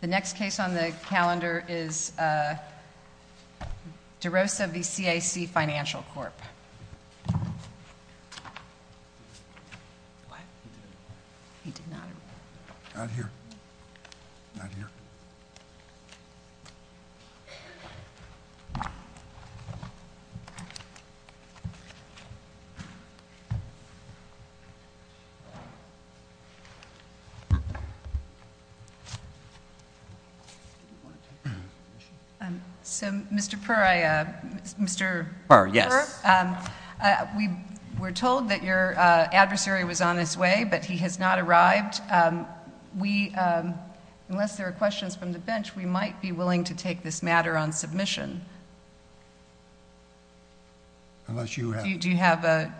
The next case on the calendar is DeRosa v. CAC Financial Corp. Mr. Perra, we were told that your adversary was on his way, but he has not arrived. Unless there are questions from the bench, we might be willing to take this matter on submission. Unless you have a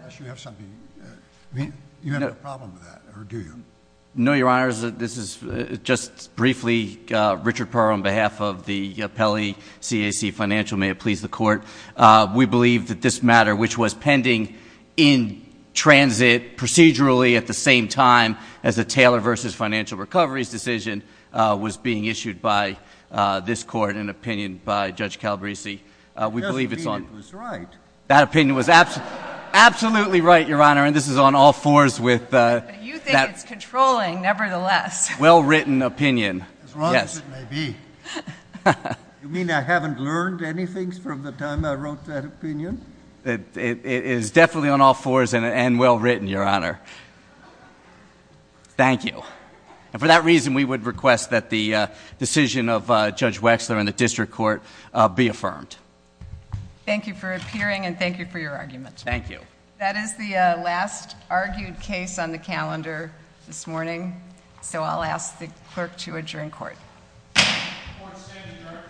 problem with that, or do you? No, Your Honor. This is just briefly. Richard Perra, on behalf of the appellee, CAC Financial, may it please the Court. We believe that this matter, which was pending in transit procedurally at the same time as the Taylor v. Financial Recovery's decision, was being issued by this Court in opinion by Judge Calabresi. That opinion was right. That opinion was absolutely right, Your Honor, and this is on all fours with that. But you think it's controlling, nevertheless. Well-written opinion. As wrong as it may be. You mean I haven't learned anything from the time I wrote that opinion? It is definitely on all fours and well-written, Your Honor. Thank you. And for that reason, we would request that the decision of Judge Wexler and the District Court be affirmed. Thank you for appearing, and thank you for your argument. Thank you. That is the last argued case on the calendar this morning, so I'll ask the clerk to adjourn court. Court is adjourned.